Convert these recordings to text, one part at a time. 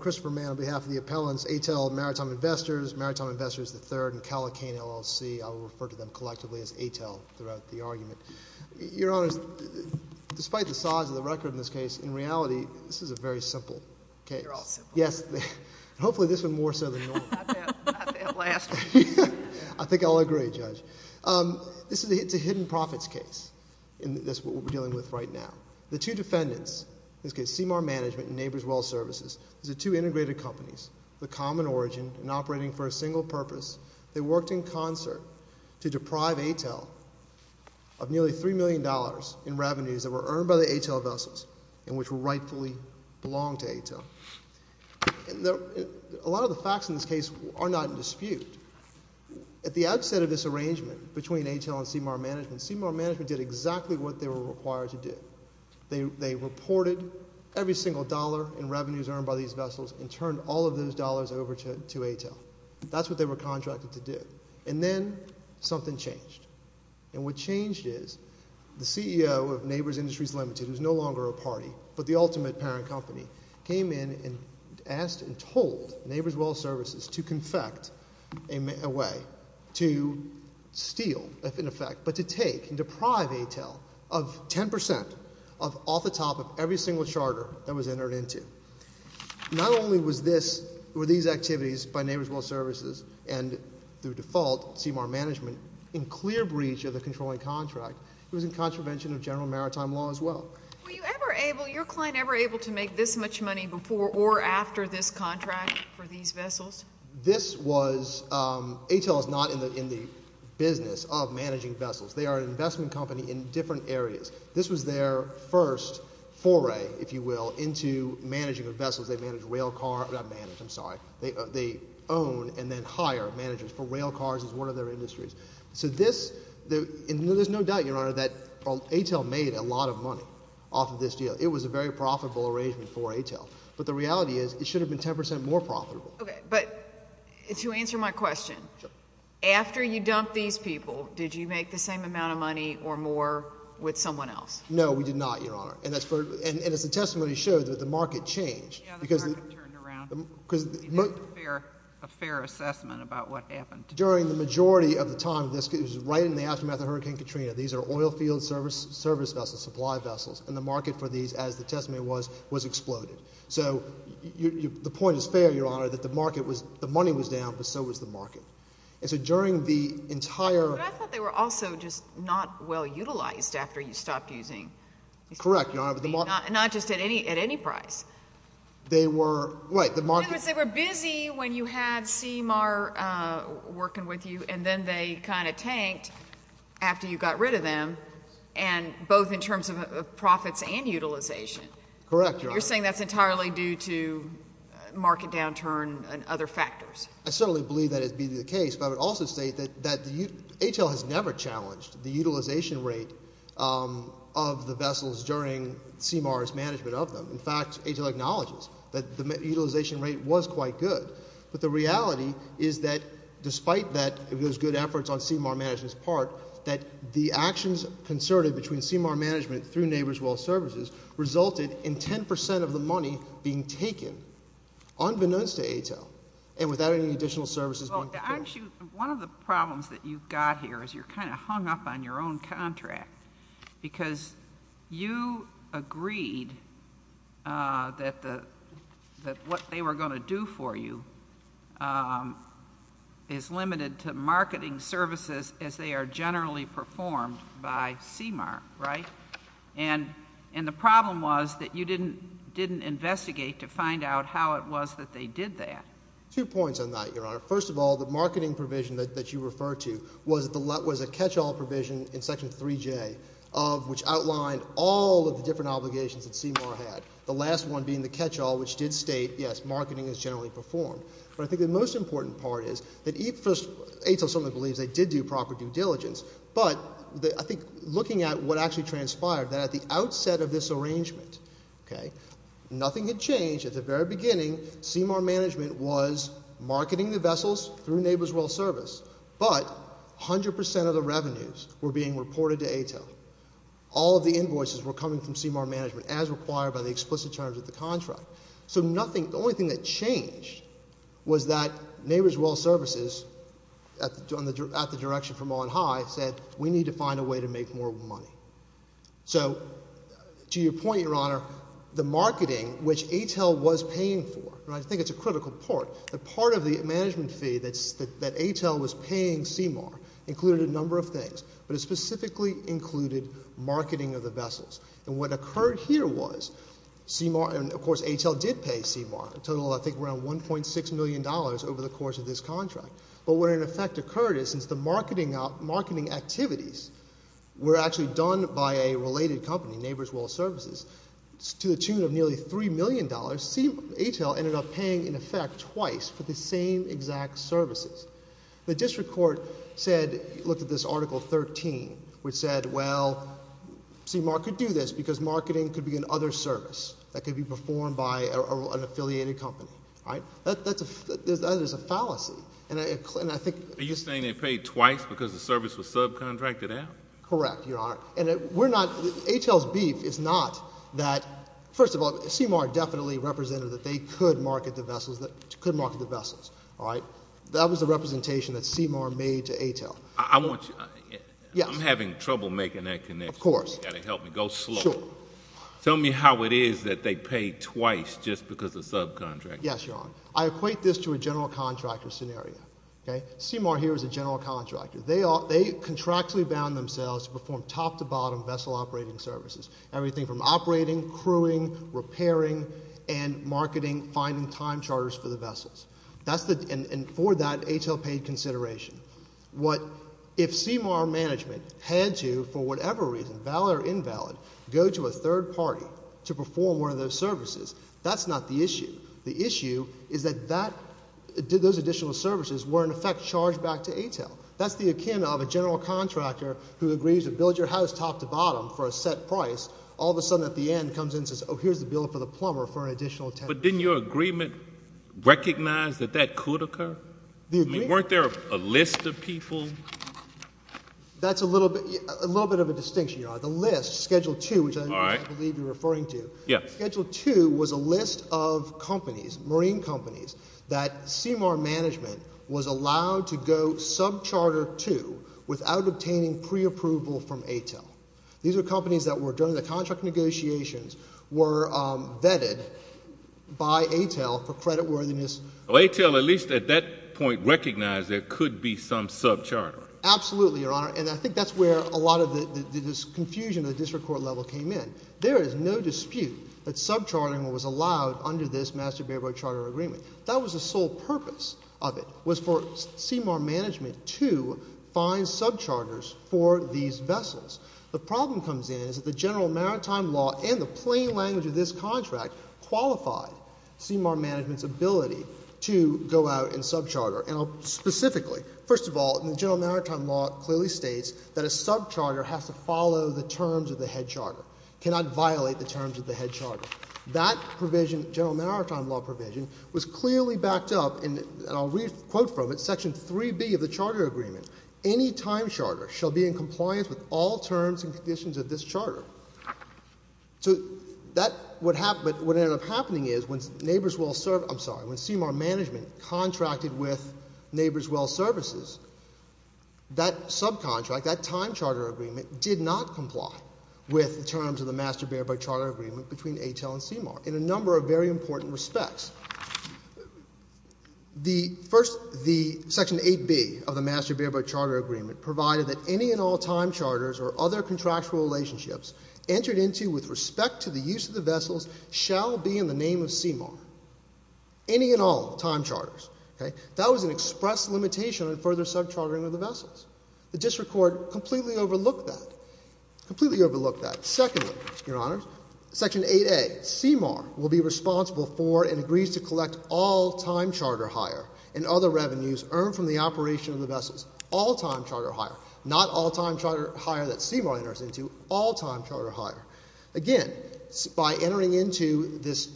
Christopher Mann on behalf of the appellants, Atel Maritime Investors, Maritime Investors III, and Calacane, LLC. I will refer to them collectively as Atel throughout the argument. Your Honor, despite the size of the record in this case, in reality, this is a very simple case. They're all simple. Yes, and hopefully this one more so than normal. Not that last one. I think I'll agree, Judge. This is a hidden profits case. That's what we're dealing with right now. The two defendants, in this case Sea Mar Management and Neighbors Well Services, these are two integrated companies with common origin and operating for a single purpose. They worked in concert to deprive Atel of nearly $3 million in revenues that were earned by the Atel vessels and which rightfully belonged to Atel. A lot of the facts in this case are not in dispute. At the outset of this arrangement between Atel and Sea Mar Management, Sea Mar Management did exactly what they were required to do. They reported every single dollar in revenues earned by these vessels and turned all of those dollars over to Atel. That's what they were contracted to do. And then something changed. And what changed is the CEO of Neighbors Industries Limited, who's no longer a party but the ultimate parent company, came in and asked and told Neighbors Well Services to confect a way to steal, if in effect, but to take and deprive Atel of 10% off the top of every single charter that was entered into. Not only were these activities by Neighbors Well Services and, through default, Sea Mar Management, in clear breach of the controlling contract, it was in contravention of general maritime law as well. Were you ever able, your client ever able to make this much money before or after this contract for these vessels? This was, Atel is not in the business of managing vessels. They are an investment company in different areas. This was their first foray, if you will, into managing of vessels. They manage rail car, not manage, I'm sorry. They own and then hire managers for rail cars as one of their industries. So this, and there's no doubt, Your Honor, that Atel made a lot of money off of this deal. It was a very profitable arrangement for Atel. But the reality is it should have been 10% more profitable. But to answer my question, after you dumped these people, did you make the same amount of money or more with someone else? No, we did not, Your Honor. And as the testimony showed, the market changed. Yeah, the market turned around. A fair assessment about what happened. During the majority of the time, this was right in the aftermath of Hurricane Katrina. These are oil field service vessels, supply vessels. And the market for these, as the testimony was, was exploded. So the point is fair, Your Honor, that the market was, the money was down, but so was the market. And so during the entire- But I thought they were also just not well utilized after you stopped using these people. Correct, Your Honor, but the market- Not just at any price. They were, right, the market- In other words, they were busy when you had CMAR working with you and then they kind of tanked after you got rid of them. And both in terms of profits and utilization. Correct, Your Honor. But you're saying that's entirely due to market downturn and other factors. I certainly believe that it be the case, but I would also state that ATL has never challenged the utilization rate of the vessels during CMAR's management of them. In fact, ATL acknowledges that the utilization rate was quite good. But the reality is that despite that, it was good efforts on CMAR management's part, that the actions concerted between CMAR management through Neighbors Wealth Services resulted in 10% of the money being taken, unbeknownst to ATL, and without any additional services- Well, actually, one of the problems that you've got here is you're kind of hung up on your own contract. Because you agreed that what they were going to do for you is limited to marketing services as they are generally performed by CMAR, right? And the problem was that you didn't investigate to find out how it was that they did that. First of all, the marketing provision that you refer to was a catch-all provision in Section 3J, which outlined all of the different obligations that CMAR had. The last one being the catch-all, which did state, yes, marketing is generally performed. But I think the most important part is that ATL certainly believes they did do proper due diligence. But I think looking at what actually transpired, that at the outset of this arrangement, nothing had changed. At the very beginning, CMAR management was marketing the vessels through Neighbors Wealth Service. But 100% of the revenues were being reported to ATL. All of the invoices were coming from CMAR management, as required by the explicit terms of the contract. So the only thing that changed was that Neighbors Wealth Services, at the direction from On High, said, we need to find a way to make more money. So, to your point, Your Honor, the marketing, which ATL was paying for, I think it's a critical part. The part of the management fee that ATL was paying CMAR included a number of things. But it specifically included marketing of the vessels. And what occurred here was, and of course ATL did pay CMAR a total of, I think, around $1.6 million over the course of this contract. But what in effect occurred is, since the marketing activities were actually done by a related company, Neighbors Wealth Services, to the tune of nearly $3 million, ATL ended up paying, in effect, twice for the same exact services. The district court said, looked at this Article 13, which said, well, CMAR could do this because marketing could be another service that could be performed by an affiliated company. That is a fallacy. Are you saying they paid twice because the service was subcontracted out? Correct, Your Honor. ATL's beef is not that, first of all, CMAR definitely represented that they could market the vessels. That was the representation that CMAR made to ATL. I'm having trouble making that connection. Of course. You've got to help me. Go slow. Sure. Tell me how it is that they paid twice just because of subcontracting. Yes, Your Honor. I equate this to a general contractor scenario. CMAR here is a general contractor. They contractually bound themselves to perform top-to-bottom vessel operating services. Everything from operating, crewing, repairing, and marketing, finding time charters for the vessels. And for that, ATL paid consideration. If CMAR management had to, for whatever reason, valid or invalid, go to a third party to perform one of those services, that's not the issue. The issue is that those additional services were, in effect, charged back to ATL. That's the akin of a general contractor who agrees to build your house top-to-bottom for a set price. All of a sudden, at the end, comes in and says, oh, here's the bill for the plumber for additional attention. But didn't your agreement recognize that that could occur? The agreement? I mean, weren't there a list of people? That's a little bit of a distinction, Your Honor. The list, Schedule II, which I believe you're referring to. Yes. Schedule II was a list of companies, marine companies, that CMAR management was allowed to go sub-charter to without obtaining pre-approval from ATL. These are companies that were, during the contract negotiations, were vetted by ATL for creditworthiness. Well, ATL, at least at that point, recognized there could be some sub-charter. Absolutely, Your Honor. And I think that's where a lot of this confusion at the district court level came in. There is no dispute that sub-chartering was allowed under this Master Baybrook Charter Agreement. That was the sole purpose of it, was for CMAR management to find sub-charters for these vessels. The problem comes in is that the general maritime law and the plain language of this contract qualified CMAR management's ability to go out and sub-charter. And specifically, first of all, the general maritime law clearly states that a sub-charter has to follow the terms of the head charter. It cannot violate the terms of the head charter. That provision, general maritime law provision, was clearly backed up, and I'll quote from it, Section 3B of the Charter Agreement. Any time charter shall be in compliance with all terms and conditions of this charter. So, what ended up happening is, when CMAR management contracted with Neighbors Well Services, that sub-contract, that time charter agreement, did not comply with the terms of the Master Baybrook Charter Agreement between ATEL and CMAR in a number of very important respects. The Section 8B of the Master Baybrook Charter Agreement provided that any and all time charters or other contractual relationships entered into with respect to the use of the vessels shall be in the name of CMAR. Any and all time charters. That was an express limitation on further sub-chartering of the vessels. The District Court completely overlooked that. Completely overlooked that. Secondly, Your Honors, Section 8A. CMAR will be responsible for and agrees to collect all time charter hire and other revenues earned from the operation of the vessels. All time charter hire. Not all time charter hire that CMAR enters into. All time charter hire. Again, by entering into this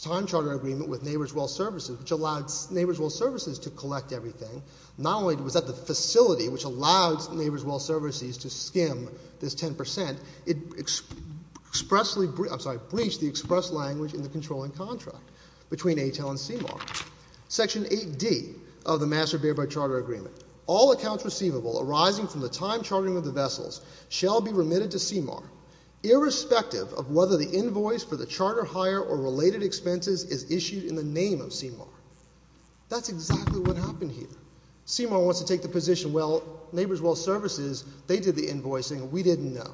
time charter agreement with Neighbors Well Services, which allowed Neighbors Well Services to collect everything, not only was that the facility which allowed Neighbors Well Services to skim this 10%, it expressly, I'm sorry, breached the express language in the controlling contract between ATEL and CMAR. Section 8D of the Master Baybrook Charter Agreement. All accounts receivable arising from the time chartering of the vessels shall be remitted to CMAR. Irrespective of whether the invoice for the charter hire or related expenses is issued in the name of CMAR. That's exactly what happened here. CMAR wants to take the position, well, Neighbors Well Services, they did the invoicing, we didn't know.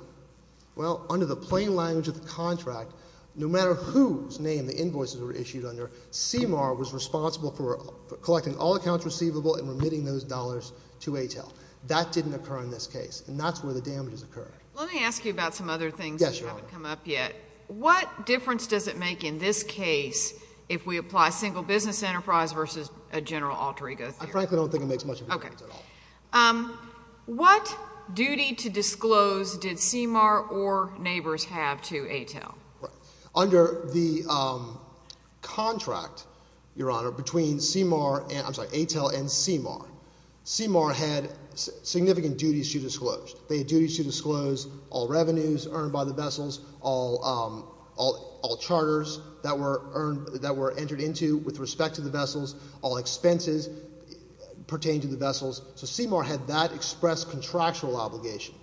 Well, under the plain language of the contract, no matter whose name the invoices were issued under, CMAR was responsible for collecting all accounts receivable and remitting those dollars to ATEL. That didn't occur in this case. And that's where the damages occurred. Let me ask you about some other things that haven't come up yet. Yes, Your Honor. What difference does it make in this case if we apply single business enterprise versus a general alter ego theory? I frankly don't think it makes much of a difference at all. Okay. What duty to disclose did CMAR or Neighbors have to ATEL? Under the contract, Your Honor, between CMAR and, I'm sorry, ATEL and CMAR, CMAR had significant duties to disclose. They had duties to disclose all revenues earned by the vessels, all charters that were entered into with respect to the vessels, all expenses pertaining to the vessels. So CMAR had that expressed contractual obligation.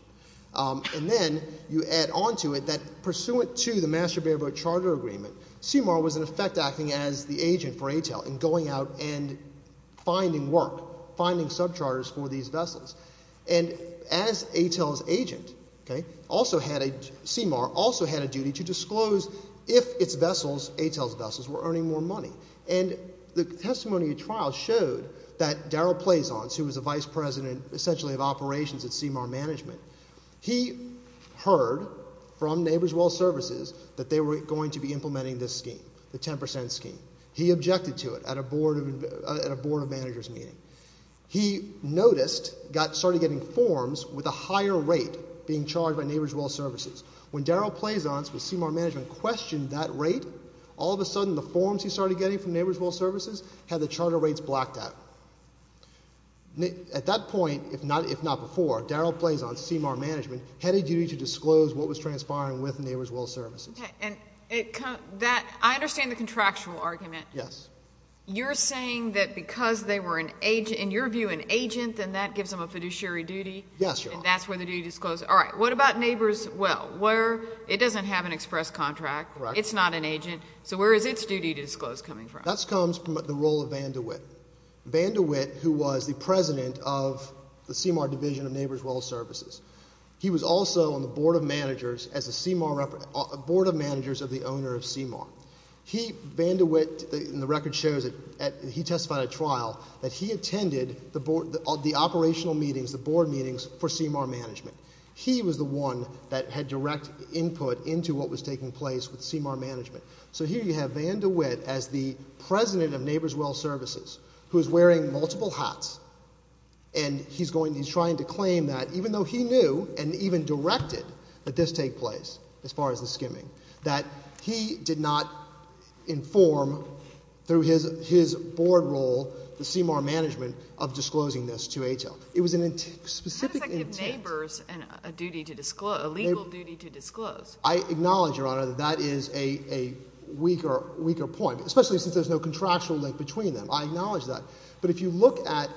And then you add on to it that pursuant to the Master Bear Boat Charter Agreement, CMAR was in effect acting as the agent for ATEL in going out and finding work, finding subcharters for these vessels. And as ATEL's agent, CMAR also had a duty to disclose if its vessels, ATEL's vessels, were earning more money. And the testimony at trial showed that Darryl Plazon, who was the vice president essentially of operations at CMAR Management, he heard from Neighbors Well Services that they were going to be implementing this scheme, the 10 percent scheme. He objected to it at a board of managers meeting. He noticed, started getting forms with a higher rate being charged by Neighbors Well Services. When Darryl Plazon, who was CMAR Management, questioned that rate, all of a sudden the forms he started getting from Neighbors Well Services had the charter rates blacked out. At that point, if not before, Darryl Plazon, CMAR Management, had a duty to disclose what was transpiring with Neighbors Well Services. And I understand the contractual argument. Yes. You're saying that because they were, in your view, an agent, then that gives them a fiduciary duty? Yes, Your Honor. And that's where the duty is disclosed? All right. What about Neighbors Well? It doesn't have an express contract. Correct. It's not an agent. So where is its duty to disclose coming from? That comes from the role of Van De Witt. Van De Witt, who was the president of the CMAR division of Neighbors Well Services, he was also on the board of managers of the owner of CMAR. Van De Witt, and the record shows that he testified at trial, that he attended the operational meetings, the board meetings, for CMAR Management. He was the one that had direct input into what was taking place with CMAR Management. So here you have Van De Witt as the president of Neighbors Well Services, who is wearing multiple hats, and he's trying to claim that even though he knew and even directed that this take place, as far as the skimming, that he did not inform, through his board role, the CMAR Management, of disclosing this to HL. It was a specific intent. How does that give Neighbors a duty to disclose, a legal duty to disclose? I acknowledge, Your Honor, that that is a weaker point, especially since there's no contractual link between them. I acknowledge that. But if you look at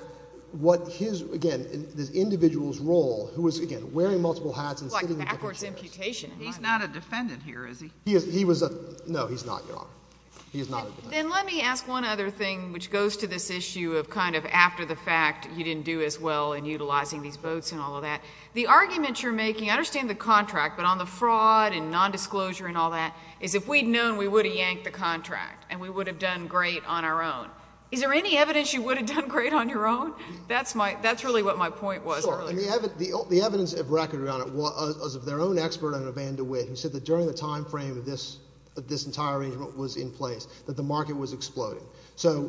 what his, again, this individual's role, who was, again, wearing multiple hats and sitting in front of chairs. He's not a defendant here, is he? No, he's not, Your Honor. Then let me ask one other thing, which goes to this issue of kind of after the fact, he didn't do as well in utilizing these boats and all of that. The argument you're making, I understand the contract, but on the fraud and nondisclosure and all that, is if we'd known, we would have yanked the contract, and we would have done great on our own. Is there any evidence you would have done great on your own? That's really what my point was earlier. The evidence of record, Your Honor, was of their own expert on Evanne DeWitt, who said that during the time frame that this entire arrangement was in place, that the market was exploding. So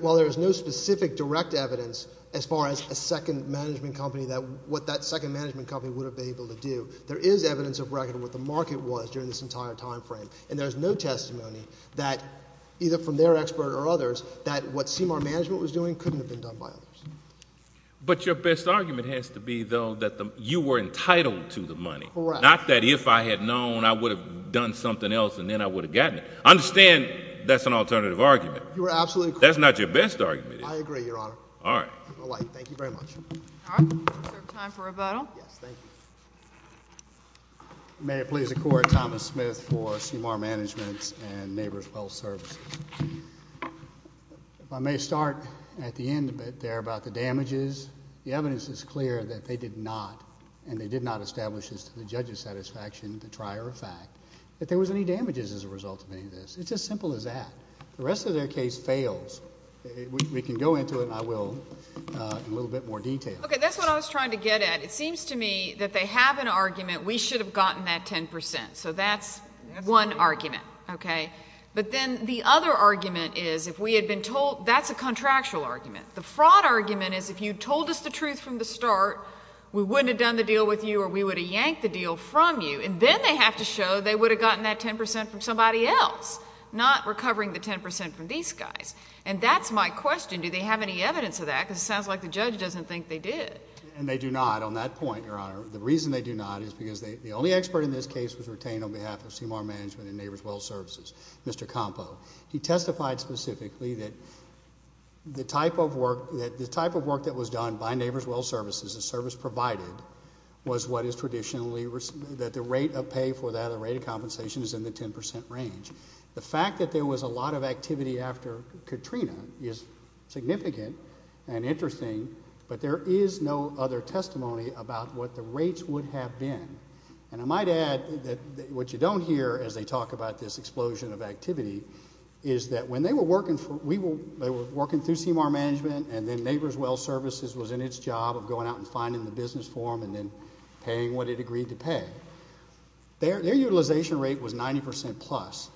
while there's no specific direct evidence as far as a second management company, what that second management company would have been able to do, there is evidence of record of what the market was during this entire time frame. And there's no testimony that, either from their expert or others, that what CMR management was doing couldn't have been done by others. But your best argument has to be, though, that you were entitled to the money. Correct. Not that if I had known, I would have done something else, and then I would have gotten it. I understand that's an alternative argument. You are absolutely correct. That's not your best argument. I agree, Your Honor. All right. Thank you very much. All right. Is there time for a vote? Yes, thank you. May it please the Court, Thomas Smith for CMR Management and Neighbors Wealth Services. If I may start at the end a bit there about the damages, the evidence is clear that they did not, and they did not establish this to the judge's satisfaction, the trier of fact, that there was any damages as a result of any of this. It's as simple as that. The rest of their case fails. We can go into it, and I will, in a little bit more detail. Okay. That's what I was trying to get at. It seems to me that they have an argument, we should have gotten that 10 percent. So that's one argument. Okay. But then the other argument is if we had been told, that's a contractual argument. The fraud argument is if you told us the truth from the start, we wouldn't have done the deal with you or we would have yanked the deal from you. And then they have to show they would have gotten that 10 percent from somebody else, not recovering the 10 percent from these guys. And that's my question. Do they have any evidence of that? Because it sounds like the judge doesn't think they did. And they do not on that point, Your Honor. The reason they do not is because the only expert in this case was retained on behalf of CMR Management and Neighbors Wealth Services. Mr. Campo. He testified specifically that the type of work that was done by Neighbors Wealth Services, the service provided, was what is traditionally, that the rate of pay for that, the rate of compensation is in the 10 percent range. The fact that there was a lot of activity after Katrina is significant and interesting, but there is no other testimony about what the rates would have been. And I might add that what you don't hear as they talk about this explosion of activity is that when they were working through CMR Management and then Neighbors Wealth Services was in its job of going out and finding the business for them and then paying what it agreed to pay, their utilization rate was 90 percent plus.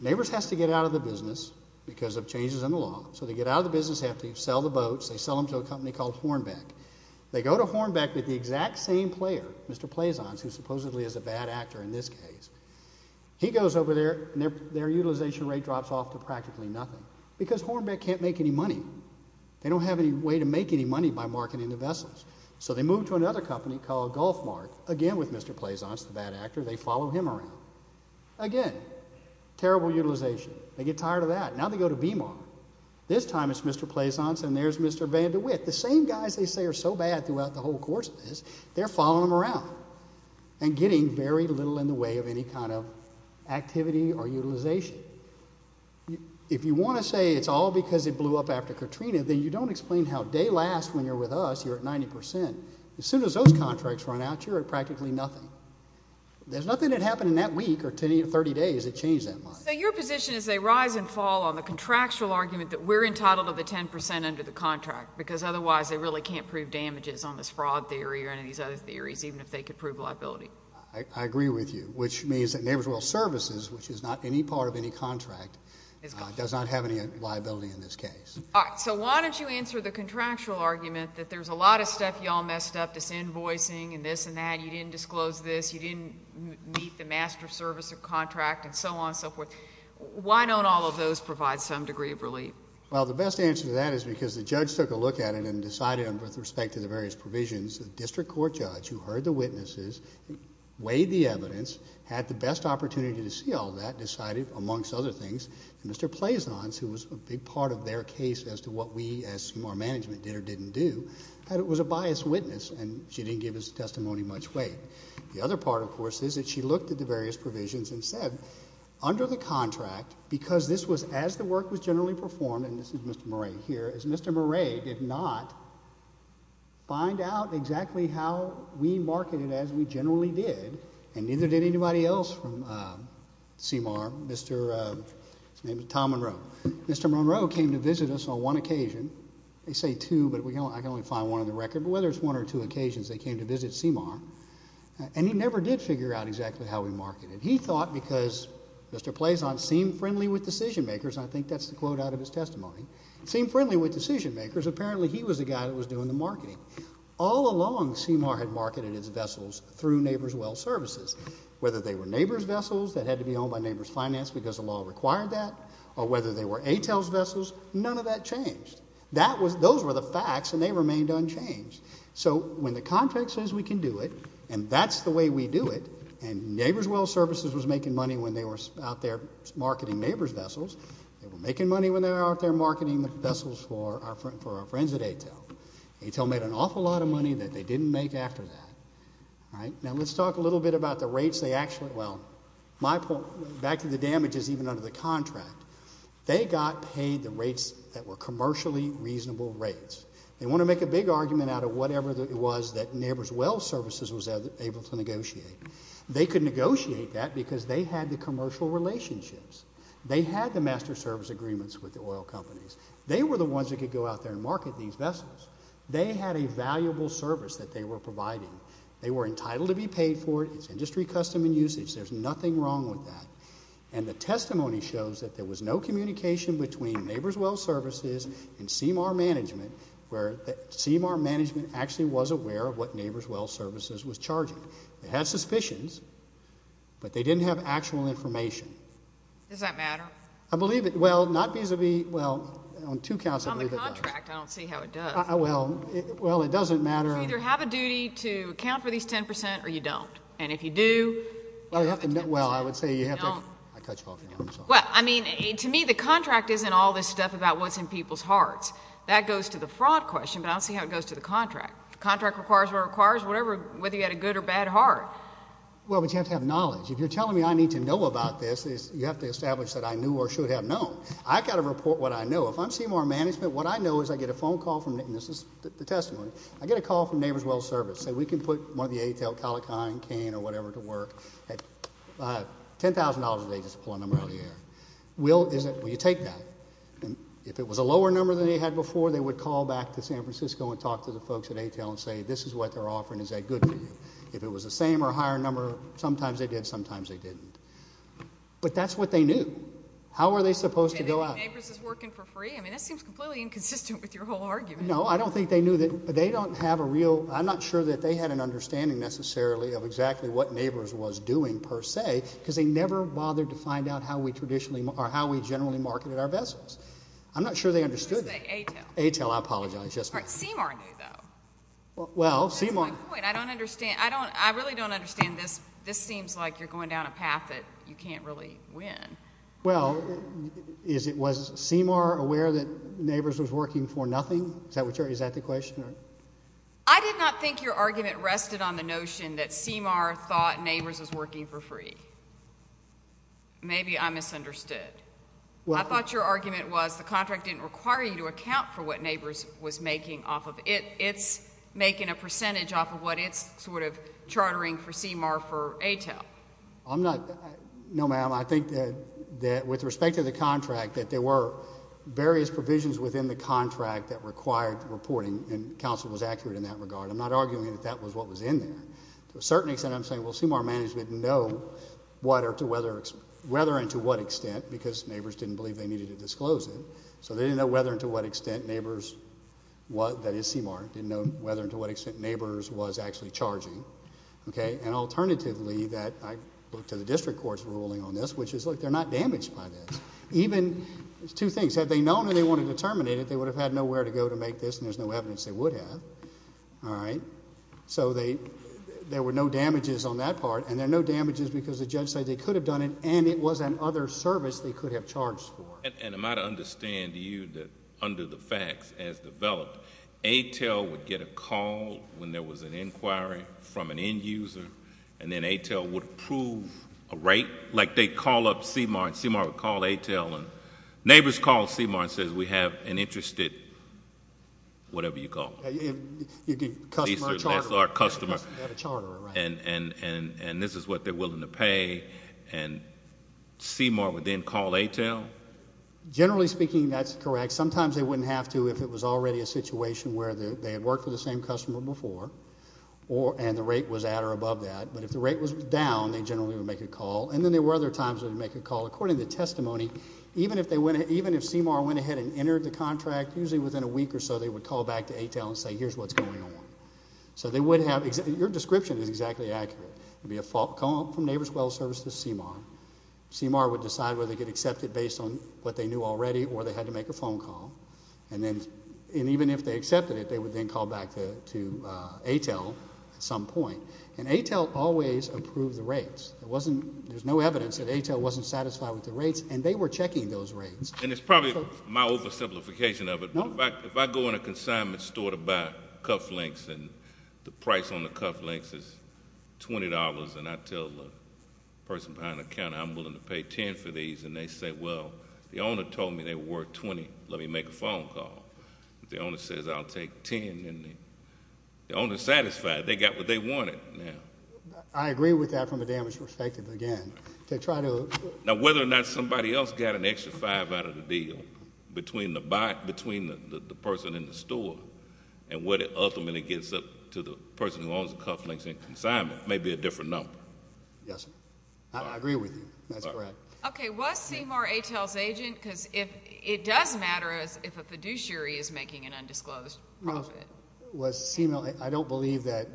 Neighbors has to get out of the business because of changes in the law. So they get out of the business, they have to sell the boats. They sell them to a company called Hornbeck. They go to Hornbeck with the exact same player, Mr. Plazance, who supposedly is a bad actor in this case. He goes over there and their utilization rate drops off to practically nothing because Hornbeck can't make any money. They don't have any way to make any money by marketing the vessels. So they move to another company called Gulfmark, again with Mr. Plazance, the bad actor. They follow him around. Again, terrible utilization. They get tired of that. Now they go to BMAR. This time it's Mr. Plazance and there's Mr. Van De Witt. The same guys they say are so bad throughout the whole course of this, they're following them around and getting very little in the way of any kind of activity or utilization. If you want to say it's all because it blew up after Katrina, then you don't explain how day last when you're with us, you're at 90 percent. As soon as those contracts run out, you're at practically nothing. There's nothing that happened in that week or 30 days that changed that much. So your position is they rise and fall on the contractual argument that we're entitled to the 10 percent under the contract because otherwise they really can't prove damages on this fraud theory or any of these other theories, even if they could prove liability. I agree with you, which means that Neighborhood Oil Services, which is not any part of any contract, does not have any liability in this case. So why don't you answer the contractual argument that there's a lot of stuff you all messed up, this invoicing and this and that, you didn't disclose this, you didn't meet the master service contract and so on and so forth. Why don't all of those provide some degree of relief? Well, the best answer to that is because the judge took a look at it and decided with respect to the various provisions, the district court judge who heard the witnesses, weighed the evidence, had the best opportunity to see all that, decided, amongst other things, that Mr. Plaisance, who was a big part of their case as to what we, as our management, did or didn't do, that it was a biased witness and she didn't give his testimony much weight. The other part, of course, is that she looked at the various provisions and said, under the contract, because this was as the work was generally performed, and this is Mr. Murray here, as Mr. Murray did not find out exactly how we marketed as we generally did, and neither did anybody else from CMR, Mr., his name is Tom Monroe, Mr. Monroe came to visit us on one occasion, they say two, but I can only find one on the record, but whether it's one or two occasions, they came to visit CMR, and he never did figure out exactly how we marketed. He thought, because Mr. Plaisance seemed friendly with decision makers, and I think that's the quote out of his testimony, seemed friendly with decision makers, apparently he was the guy that was doing the marketing. All along, CMR had marketed its vessels through Neighbors Well Services. Whether they were Neighbors vessels that had to be owned by Neighbors Finance because the law required that, or whether they were ATELS vessels, none of that changed. Those were the facts, and they remained unchanged. So when the contract says we can do it, and that's the way we do it, and Neighbors Well Services was making money when they were out there marketing Neighbors vessels, they were making money when they were out there marketing vessels for our friends at ATEL. ATEL made an awful lot of money that they didn't make after that. Now let's talk a little bit about the rates they actually, well, my point, back to the damages even under the contract, they got paid the rates that were commercially reasonable rates. They want to make a big argument out of whatever it was that Neighbors Well Services was able to negotiate. They could negotiate that because they had the commercial relationships. They had the master service agreements with the oil companies. They were the ones that could go out there and market these vessels. They had a valuable service that they were providing. They were entitled to be paid for it. It's industry custom and usage. There's nothing wrong with that. And the testimony shows that there was no communication between Neighbors Well Services and CMR Management where CMR Management actually was aware of what Neighbors Well Services was charging. They had suspicions, but they didn't have actual information. Does that matter? I believe it. Well, not vis-a-vis, well, on two counts, I believe it does. On the contract, I don't see how it does. Well, it doesn't matter. You either have a duty to account for these 10% or you don't. And if you do, you have to pay 10%. Well, I would say you have to. I cut you off. Well, I mean, to me, the contract isn't all this stuff about what's in people's hearts. but I don't see how it goes to the contract. The contract requires what it requires. Whether you had a good or bad heart. Well, but you have to have knowledge. If you're telling me I need to know about this, you have to establish that I knew or should have known. I've got to report what I know. If I'm CMR Management, what I know is I get a phone call from, and this is the testimony, I get a call from Neighbors Well Services saying we can put one of the ATEL, Colichine, Kane, or whatever, to work at $10,000 a day just to pull a number out of the air. Will, will you take that? And if it was a lower number than they had before, they would call back to San Francisco and talk to the folks at ATEL and say, this is what they're offering, is that good for you? If it was the same or higher number, sometimes they did, sometimes they didn't. But that's what they knew. How are they supposed to go out? You think Neighbors is working for free? I mean, that seems completely inconsistent with your whole argument. No, I don't think they knew that. They don't have a real, I'm not sure that they had an understanding, necessarily, of exactly what Neighbors was doing, per se, because they never bothered to find out how we traditionally, or how we generally marketed our vessels. I'm not sure they understood that. I was going to say ATEL. ATEL, I apologize. CMR knew, though. Well, CMR... That's my point. I don't understand. I really don't understand this. This seems like you're going down a path that you can't really win. Well, was CMR aware that Neighbors was working for nothing? Is that the question? I did not think your argument rested on the notion that CMR thought Neighbors was working for free. Maybe I misunderstood. I thought your argument was, the contract didn't require you to account for what Neighbors was making off of it. It's making a percentage off of what it's sort of chartering for CMR for ATEL. I'm not... No, ma'am. I think that, with respect to the contract, that there were various provisions within the contract that required reporting, and counsel was accurate in that regard. I'm not arguing that that was what was in there. To a certain extent, I'm saying, well, CMR management know what or to whether... Whether and to what extent, because Neighbors didn't believe they needed to disclose it, so they didn't know whether and to what extent Neighbors... That is CMR, didn't know whether and to what extent Neighbors was actually charging. Okay? And alternatively, that... I look to the district court's ruling on this, which is, look, they're not damaged by this. Even... There's two things. Had they known they wanted to terminate it, they would have had nowhere to go to make this, and there's no evidence they would have. All right? So they... There were no damages on that part, and there are no damages because the judge said they could have done it, and it was an other service they could have charged for. And am I to understand to you that, under the facts as developed, ATEL would get a call when there was an inquiry from an end user, and then ATEL would approve a rate? Like, they'd call up CMR, and CMR would call ATEL, and Neighbors called CMR and says, We have an interested... Whatever you call it. Customer or charterer. That's our customer. They had a charterer, right. And this is what they're willing to pay, and CMR would then call ATEL? Generally speaking, that's correct. Sometimes they wouldn't have to if it was already a situation where they had worked with the same customer before, and the rate was at or above that. But if the rate was down, they generally would make a call. And then there were other times they would make a call. According to testimony, even if CMR went ahead and entered the contract, usually within a week or so, they would call back to ATEL and say, Here's what's going on. So they would have... Your description is exactly accurate. It would be a phone call from Neighbors Wells Service to CMR. CMR would decide whether they could accept it based on what they knew already, or they had to make a phone call. And even if they accepted it, they would then call back to ATEL at some point. And ATEL always approved the rates. There's no evidence that ATEL wasn't satisfied with the rates, and they were checking those rates. And it's probably my oversimplification of it, but if I go in a consignment store to buy cuff links and the price on the cuff links is $20, and I tell the person behind the counter I'm willing to pay $10 for these, and they say, Well, the owner told me they were worth $20. Let me make a phone call. The owner says, I'll take $10. The owner's satisfied. They got what they wanted. I agree with that from a damage perspective, again. Now, whether or not somebody else got an extra $5 out of the deal between the person in the store and what it ultimately gets up to the person who owns the cuff links in consignment may be a different number. Yes. I agree with you. That's correct. Okay. Was Seymour ATEL's agent? Because it does matter if a fiduciary is making an undisclosed profit. Was Seymour. I don't believe that.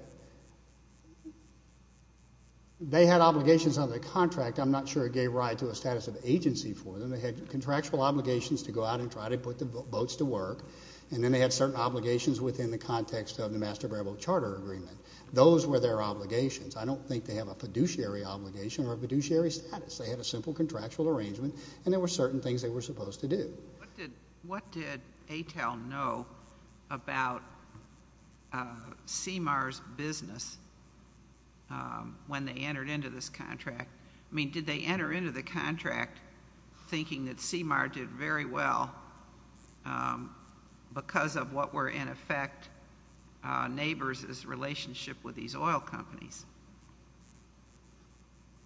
They had obligations under the contract. I'm not sure it gave rise to a status of agency for them. They had contractual obligations to go out and try to put the boats to work, and then they had certain obligations within the context of the Master Variable Charter Agreement. Those were their obligations. I don't think they have a fiduciary obligation or a fiduciary status. They had a simple contractual arrangement, and there were certain things they were supposed to do. What did ATEL know about Seymour's business when they entered into this contract? I mean, did they enter into the contract thinking that Seymour did very well because of what were, in effect, neighbors' relationship with these oil companies?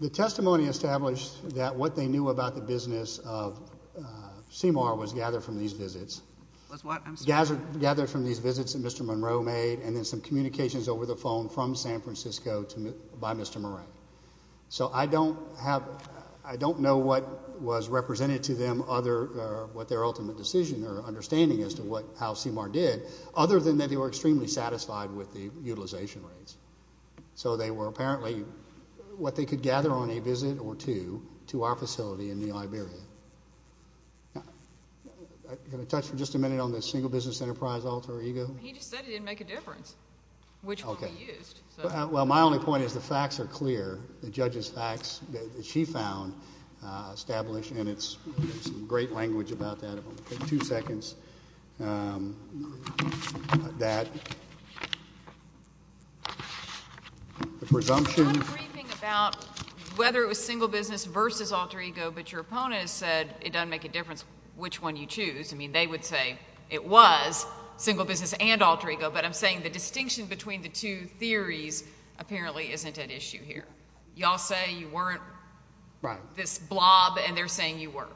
The testimony established that what they knew about the business of Seymour was gathered from these visits. Gathered from these visits that Mr. Monroe made and then some communications over the phone from San Francisco by Mr. Moran. So I don't know what was represented to them or what their ultimate decision or understanding as to how Seymour did, other than that they were extremely satisfied with the utilization rates. So they were apparently what they could gather on a visit or two to our facility in New Liberia. Can I touch for just a minute on the single business enterprise alter ego? He just said it didn't make a difference which one he used. Well, my only point is the facts are clear. The judge's facts that she found established, and there's some great language about that if I'm going to take two seconds, that the presumption... I'm briefing about whether it was single business versus alter ego, but your opponent has said it doesn't make a difference which one you choose. I mean, they would say it was single business and alter ego, but I'm saying the distinction between the two theories apparently isn't at issue here. You all say you weren't this blob, and they're saying you were.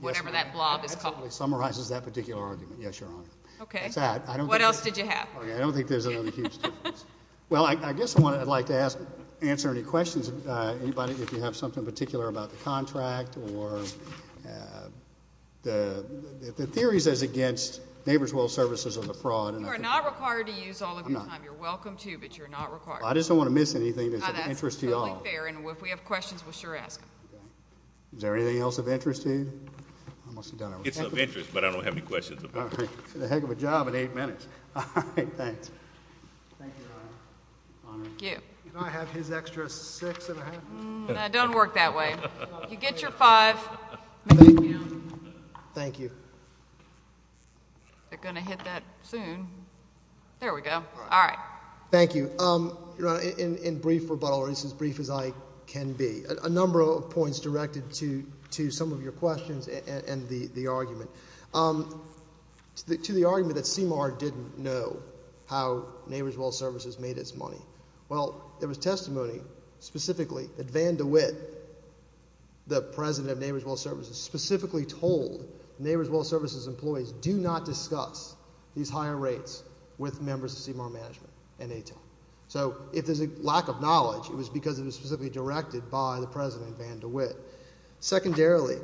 Whatever that blob is called. It summarizes that particular argument. Yes, Your Honor. Okay. What else did you have? I don't think there's another huge difference. Well, I guess I'd like to answer any questions. Anybody, if you have something in particular about the contract or the theories as against Neighbor's Will Services or the fraud. You are not required to use all of your time. You're welcome to, but you're not required. I just don't want to miss anything that's of interest to you all. That's totally fair, and if we have questions, we'll sure ask them. Is there anything else of interest to you? I must have done everything. It's of interest, but I don't have any questions. All right. Get a heck of a job in eight minutes. All right. Thanks. Thank you, Your Honor. Honor. Thank you. Can I have his extra six and a half? No, don't work that way. You get your five. Thank you. They're going to hit that soon. There we go. All right. Thank you. Your Honor, in brief rebuttal, or at least as brief as I can be, a number of points directed to some of your questions and the argument. To the argument that CMAR didn't know how Neighbors Welfare Services made its money. Well, there was testimony specifically that Van De Witt, the president of Neighbors Welfare Services, specifically told Neighbors Welfare Services employees, do not discuss these higher rates with members of CMAR management and ATEM. So if there's a lack of knowledge, it was because it was specifically directed by the president, Van De Witt. Secondarily.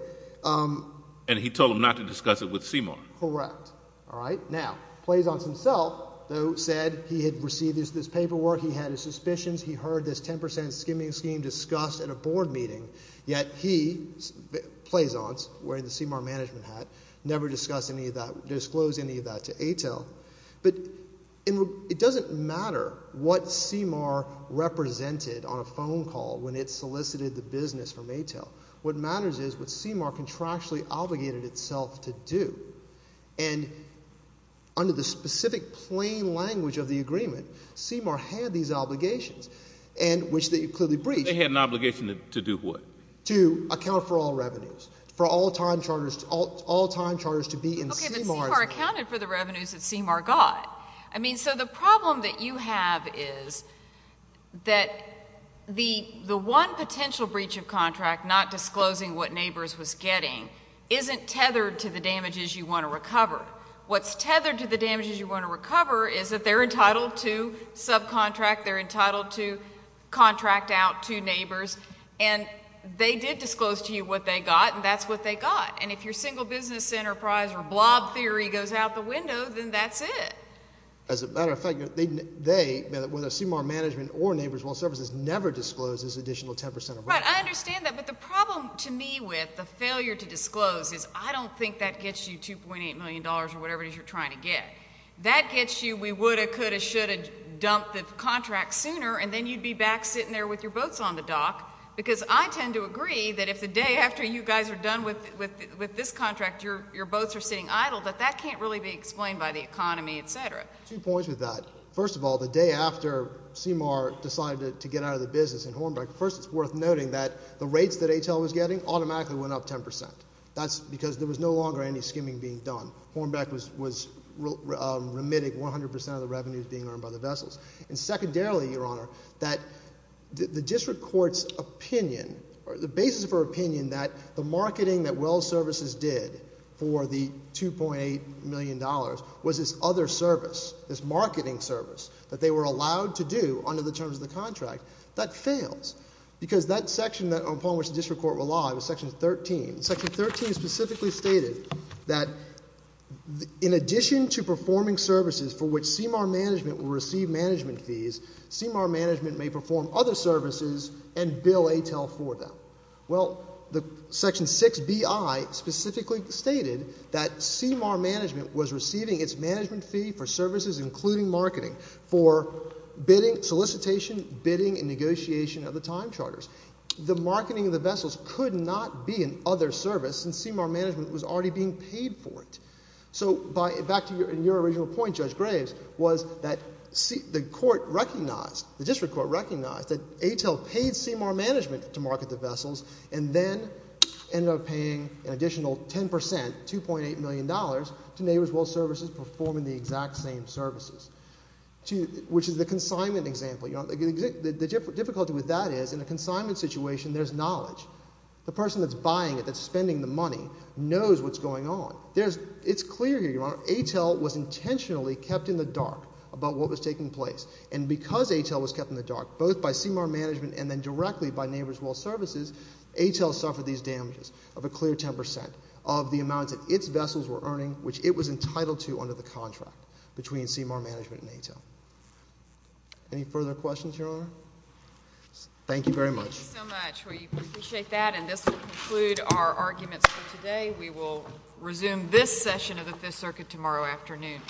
And he told them not to discuss it with CMAR. Correct. All right. Now, Plaisance himself, though, said he had received this paperwork, he had his suspicions, he heard this 10% skimming scheme discussed at a board meeting, yet he, Plaisance, wearing the CMAR management hat, never disclosed any of that to ATEM. But it doesn't matter what CMAR represented on a phone call when it solicited the business from ATEM. What matters is what CMAR contractually obligated itself to do. And under the specific plain language of the agreement, CMAR had these obligations, which they clearly breached. They had an obligation to do what? To account for all revenues, for all time charters to be in CMAR. CMAR accounted for the revenues that CMAR got. I mean, so the problem that you have is that the one potential breach of contract, not disclosing what neighbors was getting, isn't tethered to the damages you want to recover. What's tethered to the damages you want to recover is that they're entitled to subcontract, they're entitled to contract out to neighbors, and they did disclose to you what they got, and that's what they got. And if your single business enterprise or blob theory goes out the window, then that's it. As a matter of fact, they, whether CMAR management or neighbors well services, never disclosed this additional 10 percent of revenues. Right. I understand that. But the problem to me with the failure to disclose is I don't think that gets you $2.8 million or whatever it is you're trying to get. That gets you we would have, could have, should have dumped the contract sooner, and then you'd be back sitting there with your boats on the dock. Because I tend to agree that if the day after you guys are done with this contract, your boats are sitting idle, that that can't really be explained by the economy, et cetera. Two points with that. First of all, the day after CMAR decided to get out of the business in Hornbeck, first it's worth noting that the rates that HL was getting automatically went up 10 percent. That's because there was no longer any skimming being done. Hornbeck was remitting 100 percent of the revenues being earned by the vessels. And secondarily, Your Honor, that the district court's opinion or the basis of her opinion that the marketing that well services did for the $2.8 million was this other service, this marketing service that they were allowed to do under the terms of the contract, that fails. Because that section upon which the district court relied was Section 13. Section 13 specifically stated that in addition to performing services for which CMAR Management will receive management fees, CMAR Management may perform other services and bill ATEL for them. Well, Section 6Bi specifically stated that CMAR Management was receiving its management fee for services including marketing for bidding, solicitation, bidding and negotiation of the time charters. The marketing of the vessels could not be an other service since CMAR Management was already being paid for it. So back to your original point, Judge Graves, was that the court recognized, the district court recognized that ATEL paid CMAR Management to market the vessels and then ended up paying an additional 10 percent, $2.8 million, to Neighbors Well Services performing the exact same services, which is the consignment example. The difficulty with that is in a consignment situation there's knowledge. The person that's buying it, that's spending the money, knows what's going on. It's clear here, Your Honor, ATEL was intentionally kept in the dark about what was taking place. And because ATEL was kept in the dark both by CMAR Management and then directly by Neighbors Well Services, ATEL suffered these damages of a clear 10 percent of the amount that its vessels were earning, which it was entitled to under the contract between CMAR Management and ATEL. Any further questions, Your Honor? Thank you very much. Thank you so much. We appreciate that. And this will conclude our arguments for today. We will resume this session of the Fifth Circuit tomorrow afternoon.